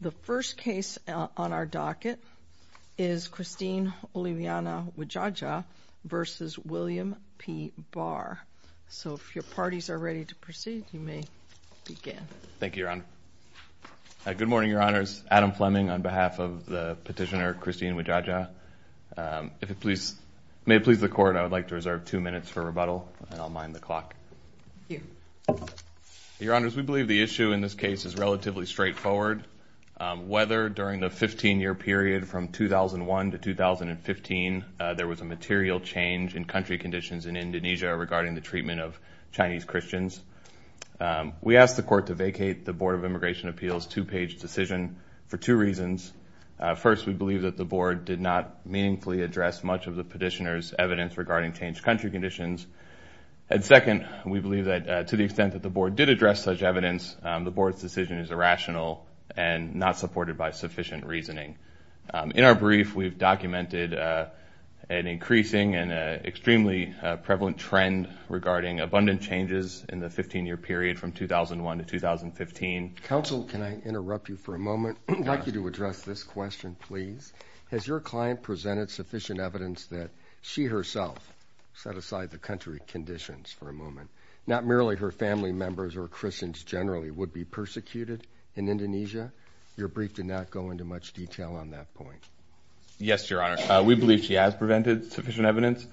The first case on our docket is Christine Oliviana Widjaja v. William P. Barr. So if your parties are ready to proceed, you may begin. Thank you, Your Honor. Good morning, Your Honors. Adam Fleming on behalf of the petitioner Christine Widjaja. May it please the Court, I would like to reserve two minutes for rebuttal, and I'll mind the clock. Thank you. Your Honors, we believe the issue in this case is relatively straightforward. Whether during the 15-year period from 2001 to 2015 there was a material change in country conditions in Indonesia regarding the treatment of Chinese Christians, we asked the Court to vacate the Board of Immigration Appeals' two-page decision for two reasons. First, we believe that the Board did not meaningfully address much of the petitioner's evidence regarding changed country conditions. And second, we believe that to the extent that the Board did address such evidence, the Board's decision is irrational and not supported by sufficient reasoning. In our brief, we've documented an increasing and extremely prevalent trend regarding abundant changes in the 15-year period from 2001 to 2015. Counsel, can I interrupt you for a moment? I'd like you to address this question, please. Has your client presented sufficient evidence that she herself set aside the country conditions for a moment? Not merely her family members or Christians generally would be persecuted in Indonesia? Your brief did not go into much detail on that point. Yes, Your Honor. We believe she has presented sufficient evidence.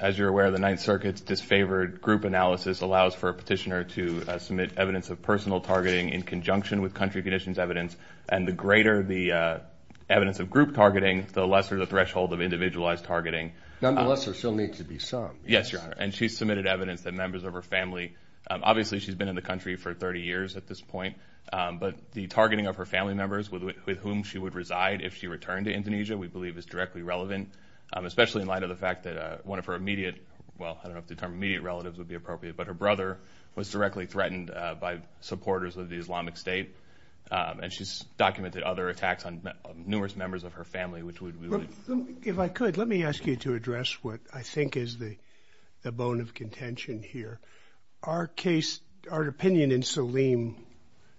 As you're aware, the Ninth Circuit's disfavored group analysis allows for a petitioner to submit evidence of personal targeting in conjunction with country conditions evidence. And the greater the evidence of group targeting, the lesser the threshold of individualized targeting. Nonetheless, there still needs to be some. Yes, Your Honor. And she submitted evidence that members of her family, obviously she's been in the country for 30 years at this point, but the targeting of her family members with whom she would reside if she returned to Indonesia we believe is directly relevant, especially in light of the fact that one of her immediate, well, I don't know if the term immediate relatives would be appropriate, but her brother was directly threatened by supporters of the Islamic State. And she's documented other attacks on numerous members of her family, which would be... If I could, let me ask you to address what I think is the bone of contention here. Our case, our opinion in Saleem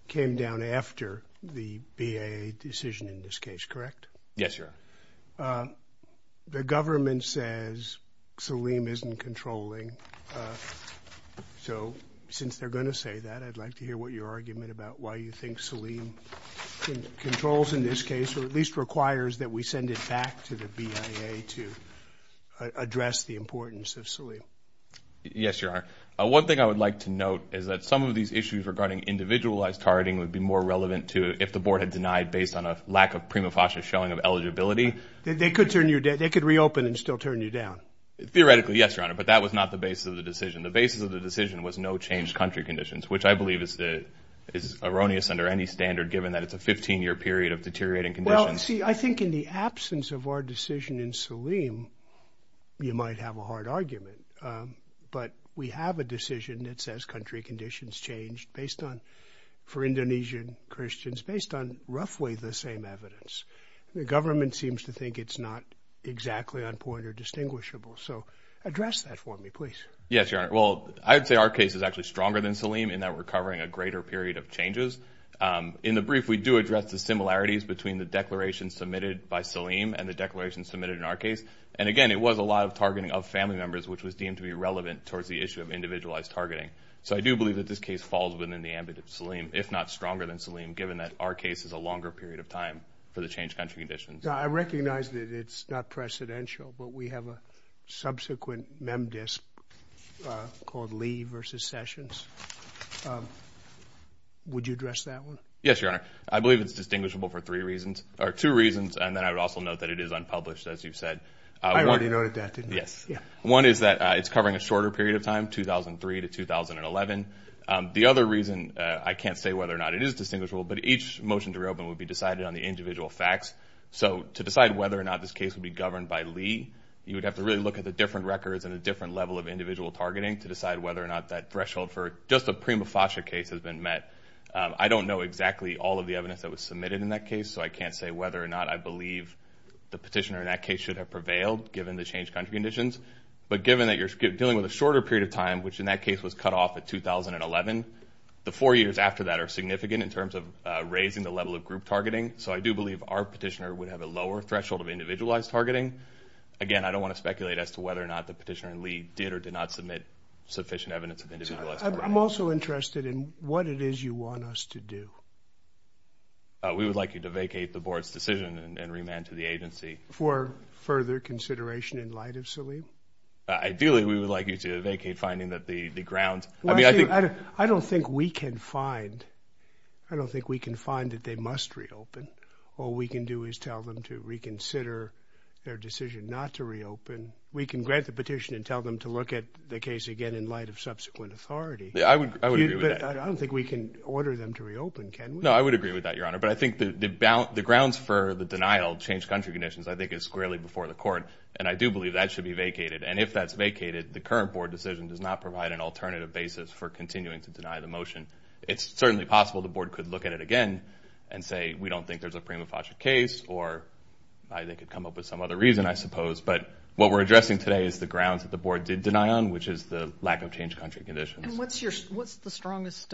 came down after the BAA decision in this case, correct? Yes, Your Honor. The government says Saleem isn't controlling. So since they're going to say that, I'd like to hear what your argument about why you think Saleem controls in this case or at least requires that we send it back to the BAA to address the importance of Saleem. Yes, Your Honor. One thing I would like to note is that some of these issues regarding individualized targeting would be more relevant if the Board had denied based on a lack of prima facie showing of eligibility. They could reopen and still turn you down. Theoretically, yes, Your Honor, but that was not the basis of the decision. The basis of the decision was no changed country conditions, which I believe is erroneous under any standard, given that it's a 15-year period of deteriorating conditions. Well, see, I think in the absence of our decision in Saleem, you might have a hard argument. But we have a decision that says country conditions changed based on, for Indonesian Christians, based on roughly the same evidence. The government seems to think it's not exactly on point or distinguishable. So address that for me, please. Yes, Your Honor. Well, I would say our case is actually stronger than Saleem in that we're covering a greater period of changes. In the brief, we do address the similarities between the declaration submitted by Saleem and the declaration submitted in our case. And again, it was a lot of targeting of family members, which was deemed to be relevant towards the issue of individualized targeting. So I do believe that this case falls within the ambit of Saleem, if not stronger than Saleem, given that our case is a longer period of time for the changed country conditions. I recognize that it's not precedential, but we have a subsequent memdisc called Lee v. Sessions. Would you address that one? Yes, Your Honor. I believe it's distinguishable for three reasons, or two reasons, and then I would also note that it is unpublished, as you said. I already noted that, didn't I? Yes. One is that it's covering a shorter period of time, 2003 to 2011. The other reason, I can't say whether or not it is distinguishable, but each motion to reopen would be decided on the individual facts. So to decide whether or not this case would be governed by Lee, you would have to really look at the different records and a different level of individual targeting to decide whether or not that threshold for just a prima facie case has been met. I don't know exactly all of the evidence that was submitted in that case, so I can't say whether or not I believe the petitioner in that case should have prevailed, given the changed country conditions. But given that you're dealing with a shorter period of time, which in that case was cut off at 2011, the four years after that are significant in terms of raising the level of group targeting. So I do believe our petitioner would have a lower threshold of individualized targeting. Again, I don't want to speculate as to whether or not the petitioner in Lee did or did not submit sufficient evidence of individualized targeting. I'm also interested in what it is you want us to do. We would like you to vacate the board's decision and remand to the agency. For further consideration in light of Saleem? Ideally, we would like you to vacate finding that the grounds— I don't think we can find that they must reopen. All we can do is tell them to reconsider their decision not to reopen. We can grant the petition and tell them to look at the case again in light of subsequent authority. I would agree with that. But I don't think we can order them to reopen, can we? No, I would agree with that, Your Honor. But I think the grounds for the denial of changed country conditions I think is squarely before the court, and I do believe that should be vacated. And if that's vacated, the current board decision does not provide an alternative basis for continuing to deny the motion. It's certainly possible the board could look at it again and say, we don't think there's a prima facie case, or they could come up with some other reason, I suppose. But what we're addressing today is the grounds that the board did deny on, which is the lack of changed country conditions. And what's the strongest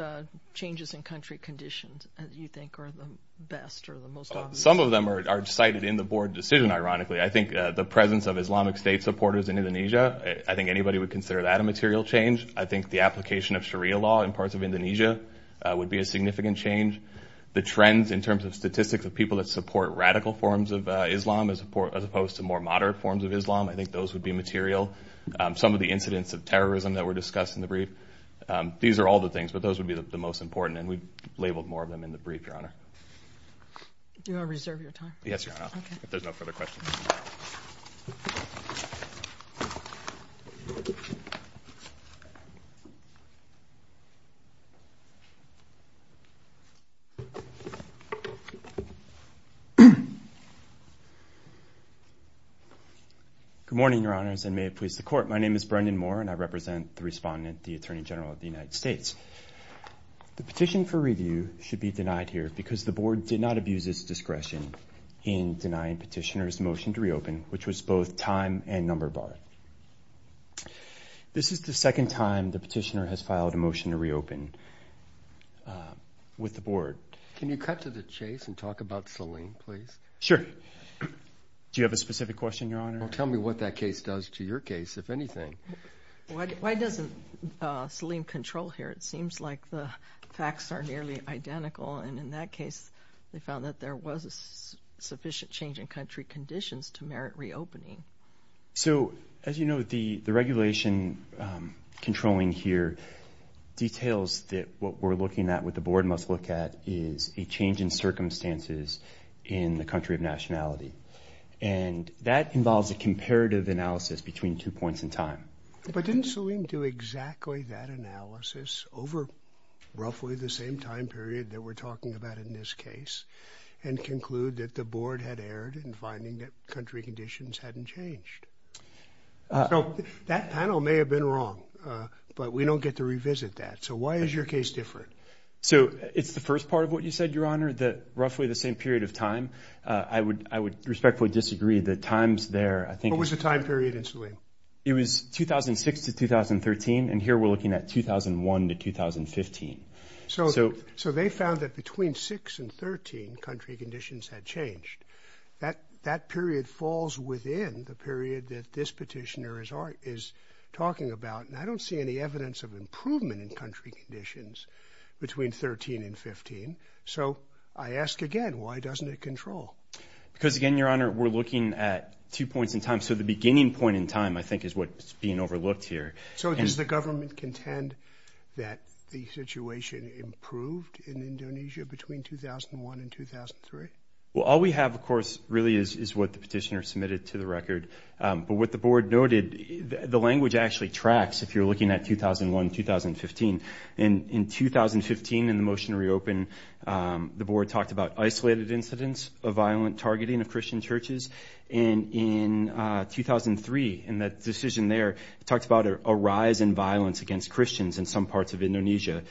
changes in country conditions that you think are the best or the most obvious? Some of them are cited in the board decision, ironically. I think the presence of Islamic State supporters in Indonesia, I think anybody would consider that a material change. I think the application of Sharia law in parts of Indonesia would be a significant change. The trends in terms of statistics of people that support radical forms of Islam as opposed to more moderate forms of Islam, I think those would be material. Some of the incidents of terrorism that were discussed in the brief, these are all the things, but those would be the most important, and we've labeled more of them in the brief, Your Honor. Do you want to reserve your time? Yes, Your Honor, if there's no further questions. Good morning, Your Honors, and may it please the Court. My name is Brendan Moore, and I represent the respondent, the Attorney General of the United States. The petition for review should be denied here because the board did not abuse its discretion in denying petitioners motion to reopen, which was both time and number bar. This is the second time the petitioner has filed a motion to reopen with the board. Can you cut to the chase and talk about Salim, please? Do you have a specific question, Your Honor? Tell me what that case does to your case, if anything. Why doesn't Salim control here? It seems like the facts are nearly identical, and in that case, they found that there was a sufficient change in country conditions to merit reopening. So, as you know, the regulation controlling here details that what we're looking at, what the board must look at, is a change in circumstances in the country of nationality, and that involves a comparative analysis between two points in time. But didn't Salim do exactly that analysis over roughly the same time period that we're talking about in this case and conclude that the board had erred in finding that country conditions hadn't changed? So, that panel may have been wrong, but we don't get to revisit that. So, why is your case different? So, it's the first part of what you said, Your Honor, that roughly the same period of time. I would respectfully disagree. The times there, I think... What was the time period in Salim? It was 2006 to 2013, and here we're looking at 2001 to 2015. So, they found that between 6 and 13, country conditions had changed. That period falls within the period that this petitioner is talking about, and I don't see any evidence of improvement in country conditions between 13 and 15. So, I ask again, why doesn't it control? Because, again, Your Honor, we're looking at two points in time. So, the beginning point in time, I think, is what's being overlooked here. So, does the government contend that the situation improved in Indonesia between 2001 and 2003? Well, all we have, of course, really is what the petitioner submitted to the record. But what the board noted, the language actually tracks if you're looking at 2001, 2015. In 2015, in the motion to reopen, the board talked about isolated incidents of violent targeting of Christian churches. And in 2003, in that decision there, it talks about a rise in violence against Christians in some parts of Indonesia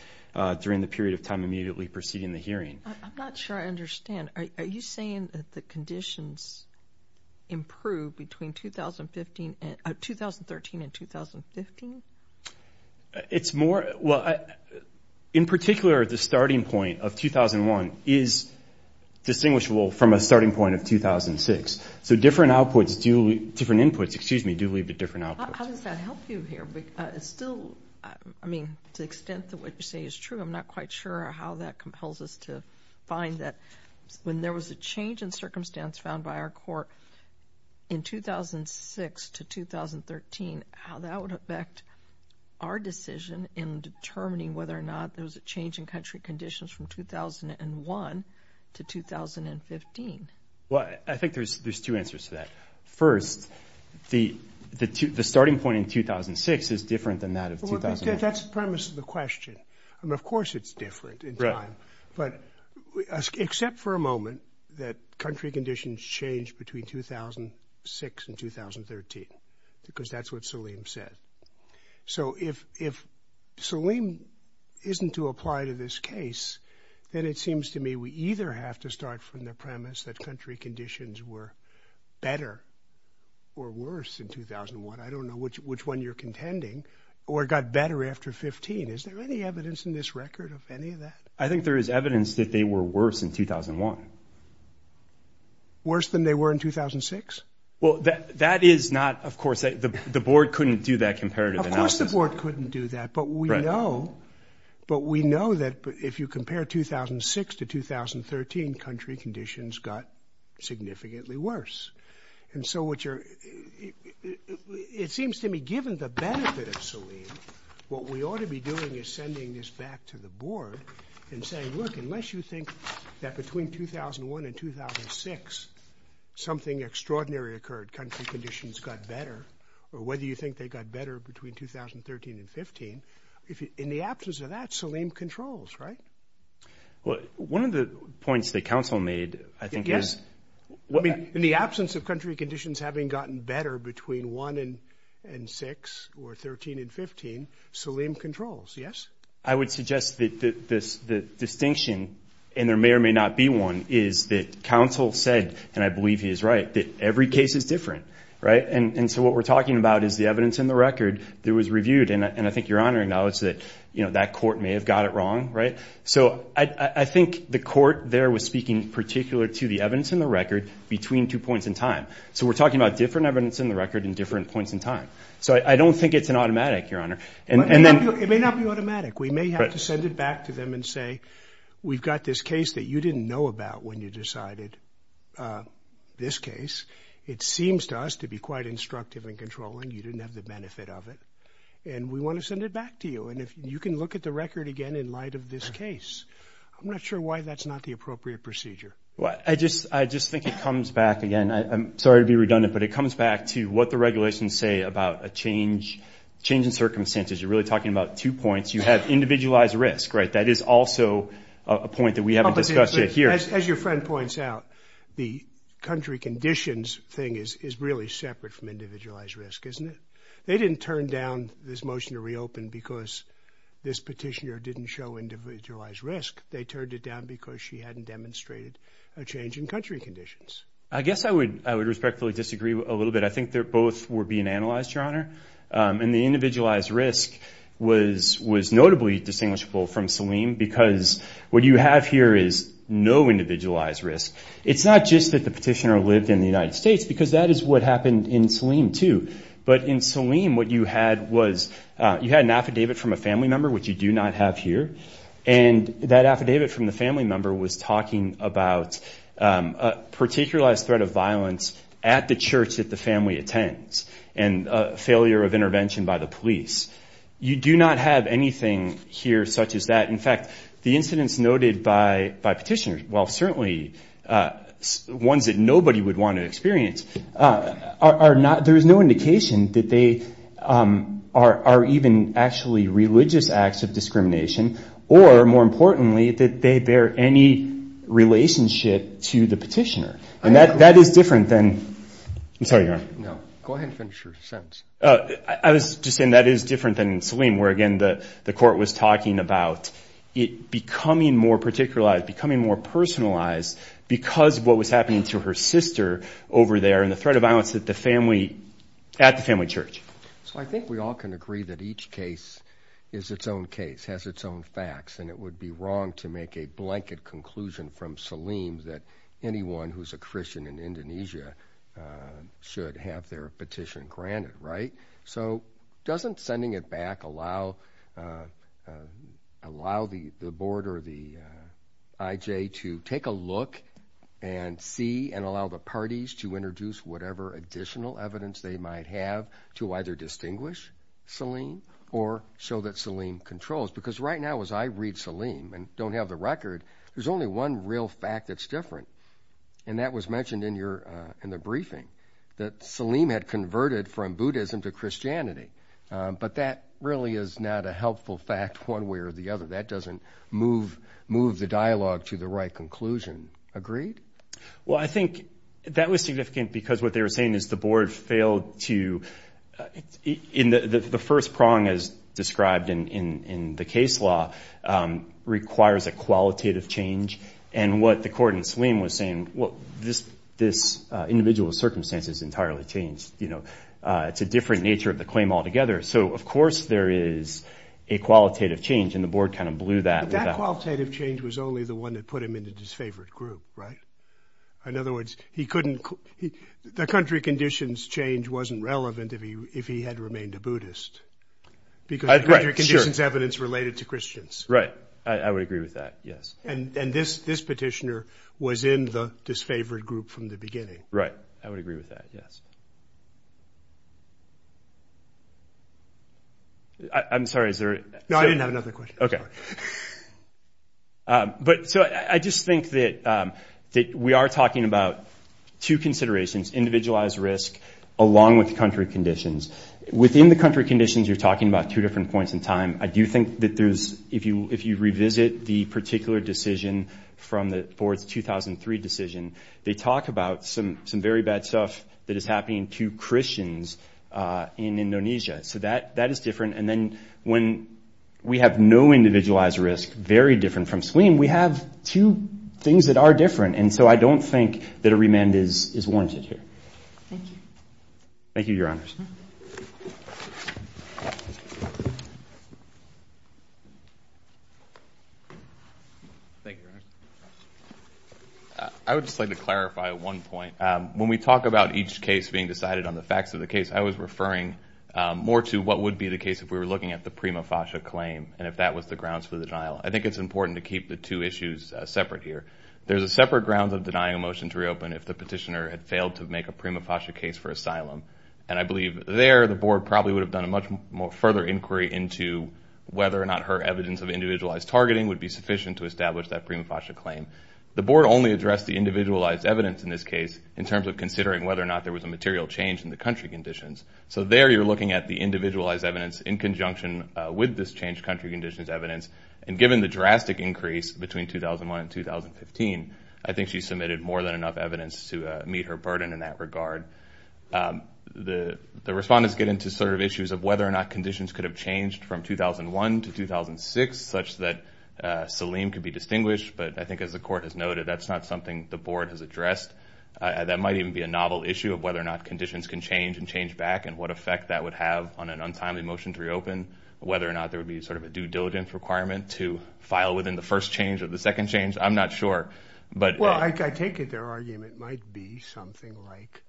during the period of time immediately preceding the hearing. I'm not sure I understand. Are you saying that the conditions improved between 2013 and 2015? It's more, well, in particular, the starting point of 2001 is distinguishable from a starting point of 2006. So, different outputs, different inputs, excuse me, do lead to different outputs. How does that help you here? It's still, I mean, to the extent that what you say is true, I'm not quite sure how that compels us to find that when there was a change in circumstance found by our court in 2006 to 2013, how that would affect our decision in determining whether or not there was a change in country conditions from 2001 to 2015. Well, I think there's two answers to that. First, the starting point in 2006 is different than that of 2001. That's the premise of the question. I mean, of course it's different in time. But except for a moment that country conditions changed between 2006 and 2013 because that's what Salim said. So if Salim isn't to apply to this case, then it seems to me we either have to start from the premise that country conditions were better or worse in 2001. I don't know which one you're contending, or got better after 15. Is there any evidence in this record of any of that? I think there is evidence that they were worse in 2001. Worse than they were in 2006? Well, that is not, of course, the board couldn't do that comparative analysis. Of course the board couldn't do that. But we know that if you compare 2006 to 2013, country conditions got significantly worse. And so what you're, it seems to me given the benefit of Salim, what we ought to be doing is sending this back to the board and saying, look, unless you think that between 2001 and 2006 something extraordinary occurred, country conditions got better, or whether you think they got better between 2013 and 15, in the absence of that, Salim controls, right? One of the points that counsel made, I think, is In the absence of country conditions having gotten better between 1 and 6 or 13 and 15, Salim controls, yes? I would suggest that the distinction, and there may or may not be one, is that counsel said, and I believe he is right, that every case is different, right? And so what we're talking about is the evidence in the record that was reviewed, and I think your Honor acknowledges that that court may have got it wrong, right? So I think the court there was speaking particular to the evidence in the record between two points in time. So we're talking about different evidence in the record in different points in time. So I don't think it's an automatic, your Honor. It may not be automatic. We may have to send it back to them and say, we've got this case that you didn't know about when you decided this case. It seems to us to be quite instructive and controlling. You didn't have the benefit of it, and we want to send it back to you. And you can look at the record again in light of this case. I'm not sure why that's not the appropriate procedure. I just think it comes back, again, I'm sorry to be redundant, but it comes back to what the regulations say about a change in circumstances. You're really talking about two points. You have individualized risk, right? That is also a point that we haven't discussed yet here. As your friend points out, the country conditions thing is really separate from individualized risk, isn't it? They didn't turn down this motion to reopen because this petitioner didn't show individualized risk. They turned it down because she hadn't demonstrated a change in country conditions. I guess I would respectfully disagree a little bit. I think they both were being analyzed, your Honor. And the individualized risk was notably distinguishable from Saleem because what you have here is no individualized risk. It's not just that the petitioner lived in the United States because that is what happened in Saleem too. But in Saleem, what you had was you had an affidavit from a family member, which you do not have here, and that affidavit from the family member was talking about a particularized threat of violence at the church that the family attends and a failure of intervention by the police. You do not have anything here such as that. In fact, the incidents noted by petitioners, while certainly ones that nobody would want to experience, there is no indication that they are even actually religious acts of discrimination or, more importantly, that they bear any relationship to the petitioner. And that is different than – I'm sorry, your Honor. No, go ahead and finish your sentence. I was just saying that is different than in Saleem where, again, the court was talking about it becoming more particularized, because of what was happening to her sister over there and the threat of violence at the family church. So I think we all can agree that each case is its own case, has its own facts, and it would be wrong to make a blanket conclusion from Saleem that anyone who is a Christian in Indonesia should have their petition granted, right? So doesn't sending it back allow the board or the IJ to take a look and see and allow the parties to introduce whatever additional evidence they might have to either distinguish Saleem or show that Saleem controls? Because right now, as I read Saleem and don't have the record, there's only one real fact that's different, and that was mentioned in the briefing, that Saleem had converted from Buddhism to Christianity. But that really is not a helpful fact one way or the other. That doesn't move the dialogue to the right conclusion. Agreed? Well, I think that was significant because what they were saying is the board failed to – the first prong, as described in the case law, requires a qualitative change. And what the court in Saleem was saying, well, this individual circumstance is entirely changed. It's a different nature of the claim altogether. So, of course, there is a qualitative change, and the board kind of blew that without – But that qualitative change was only the one that put him into his favorite group, right? In other words, he couldn't – the country conditions change wasn't relevant if he had remained a Buddhist. Because the country conditions evidence related to Christians. Right. I would agree with that, yes. And this petitioner was in the disfavored group from the beginning. Right. I would agree with that, yes. I'm sorry, is there – No, I didn't have another question. Okay. But so I just think that we are talking about two considerations, individualized risk along with country conditions. Within the country conditions, you're talking about two different points in time. I do think that there's – if you revisit the particular decision from the board's 2003 decision, they talk about some very bad stuff that is happening to Christians in Indonesia. So that is different. And then when we have no individualized risk, very different from Saleem, we have two things that are different. And so I don't think that a remand is warranted here. Thank you. Thank you, Your Honors. Thank you, Your Honors. I would just like to clarify one point. When we talk about each case being decided on the facts of the case, I was referring more to what would be the case if we were looking at the Prima Fascia claim and if that was the grounds for the denial. I think it's important to keep the two issues separate here. There's a separate grounds of denying a motion to reopen if the petitioner had failed to make a Prima Fascia case for asylum. And I believe there the board probably would have done a much further inquiry into whether or not her evidence of individualized targeting would be sufficient to establish that Prima Fascia claim. The board only addressed the individualized evidence in this case in terms of considering whether or not there was a material change in the country conditions. So there you're looking at the individualized evidence in conjunction with this changed country conditions evidence. And given the drastic increase between 2001 and 2015, I think she submitted more than enough evidence to meet her burden in that regard. The respondents get into sort of issues of whether or not conditions could have changed from 2001 to 2006 such that Selim could be distinguished, but I think as the court has noted, that's not something the board has addressed. That might even be a novel issue of whether or not conditions can change and change back and what effect that would have on an untimely motion to reopen, whether or not there would be sort of a due diligence requirement to file within the first change or the second change. I'm not sure. Well, I take it their argument might be something like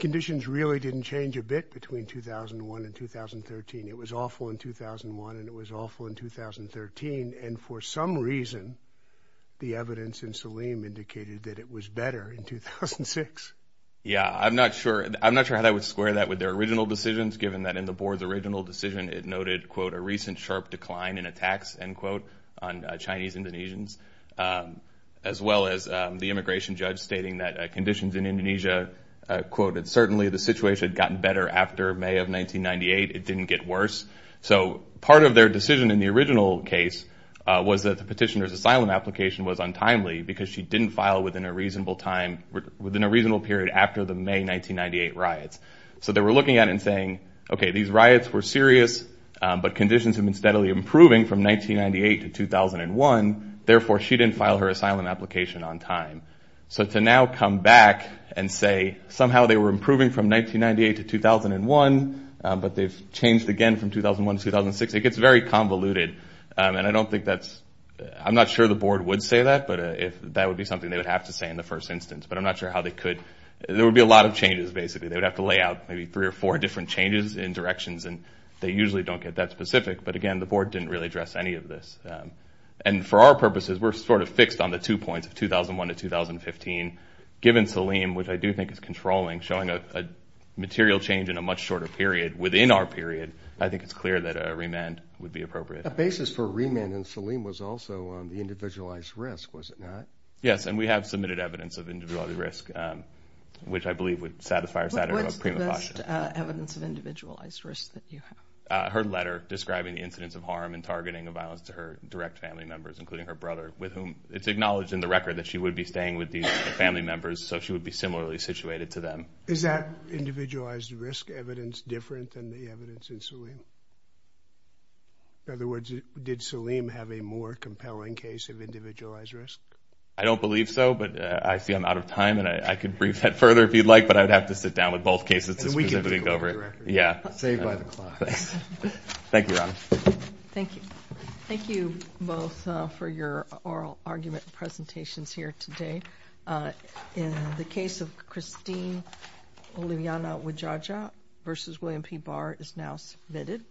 conditions really didn't change a bit between 2001 and 2013. It was awful in 2001 and it was awful in 2013. And for some reason, the evidence in Selim indicated that it was better in 2006. Yeah, I'm not sure how that would square that with their original decisions, the recent sharp decline in attacks, end quote, on Chinese-Indonesians, as well as the immigration judge stating that conditions in Indonesia, quote, certainly the situation had gotten better after May of 1998. It didn't get worse. So part of their decision in the original case was that the petitioner's asylum application was untimely because she didn't file within a reasonable time, within a reasonable period after the May 1998 riots. So they were looking at it and saying, okay, these riots were serious, but conditions have been steadily improving from 1998 to 2001. Therefore, she didn't file her asylum application on time. So to now come back and say somehow they were improving from 1998 to 2001, but they've changed again from 2001 to 2006, it gets very convoluted. And I don't think that's – I'm not sure the board would say that, but that would be something they would have to say in the first instance. But I'm not sure how they could – there would be a lot of changes, basically. They would have to lay out maybe three or four different changes in directions, and they usually don't get that specific. But, again, the board didn't really address any of this. And for our purposes, we're sort of fixed on the two points of 2001 to 2015. Given Saleem, which I do think is controlling, showing a material change in a much shorter period within our period, I think it's clear that a remand would be appropriate. A basis for a remand in Saleem was also the individualized risk, was it not? Yes, and we have submitted evidence of individualized risk, which I believe would satisfy our standard of prima facie. But what's the best evidence of individualized risk that you have? Her letter describing the incidence of harm and targeting of violence to her direct family members, including her brother, with whom it's acknowledged in the record that she would be staying with these family members, so she would be similarly situated to them. Is that individualized risk evidence different than the evidence in Saleem? In other words, did Saleem have a more compelling case of individualized risk? I don't believe so, but I see I'm out of time, and I could brief that further if you'd like, but I'd have to sit down with both cases to specifically go over it. And we can take over the record. Yeah. Saved by the clock. Thank you, Ron. Thank you. Thank you both for your oral argument presentations here today. In the case of Christine Oluyana-Widjaja v. William P. Barr is now submitted.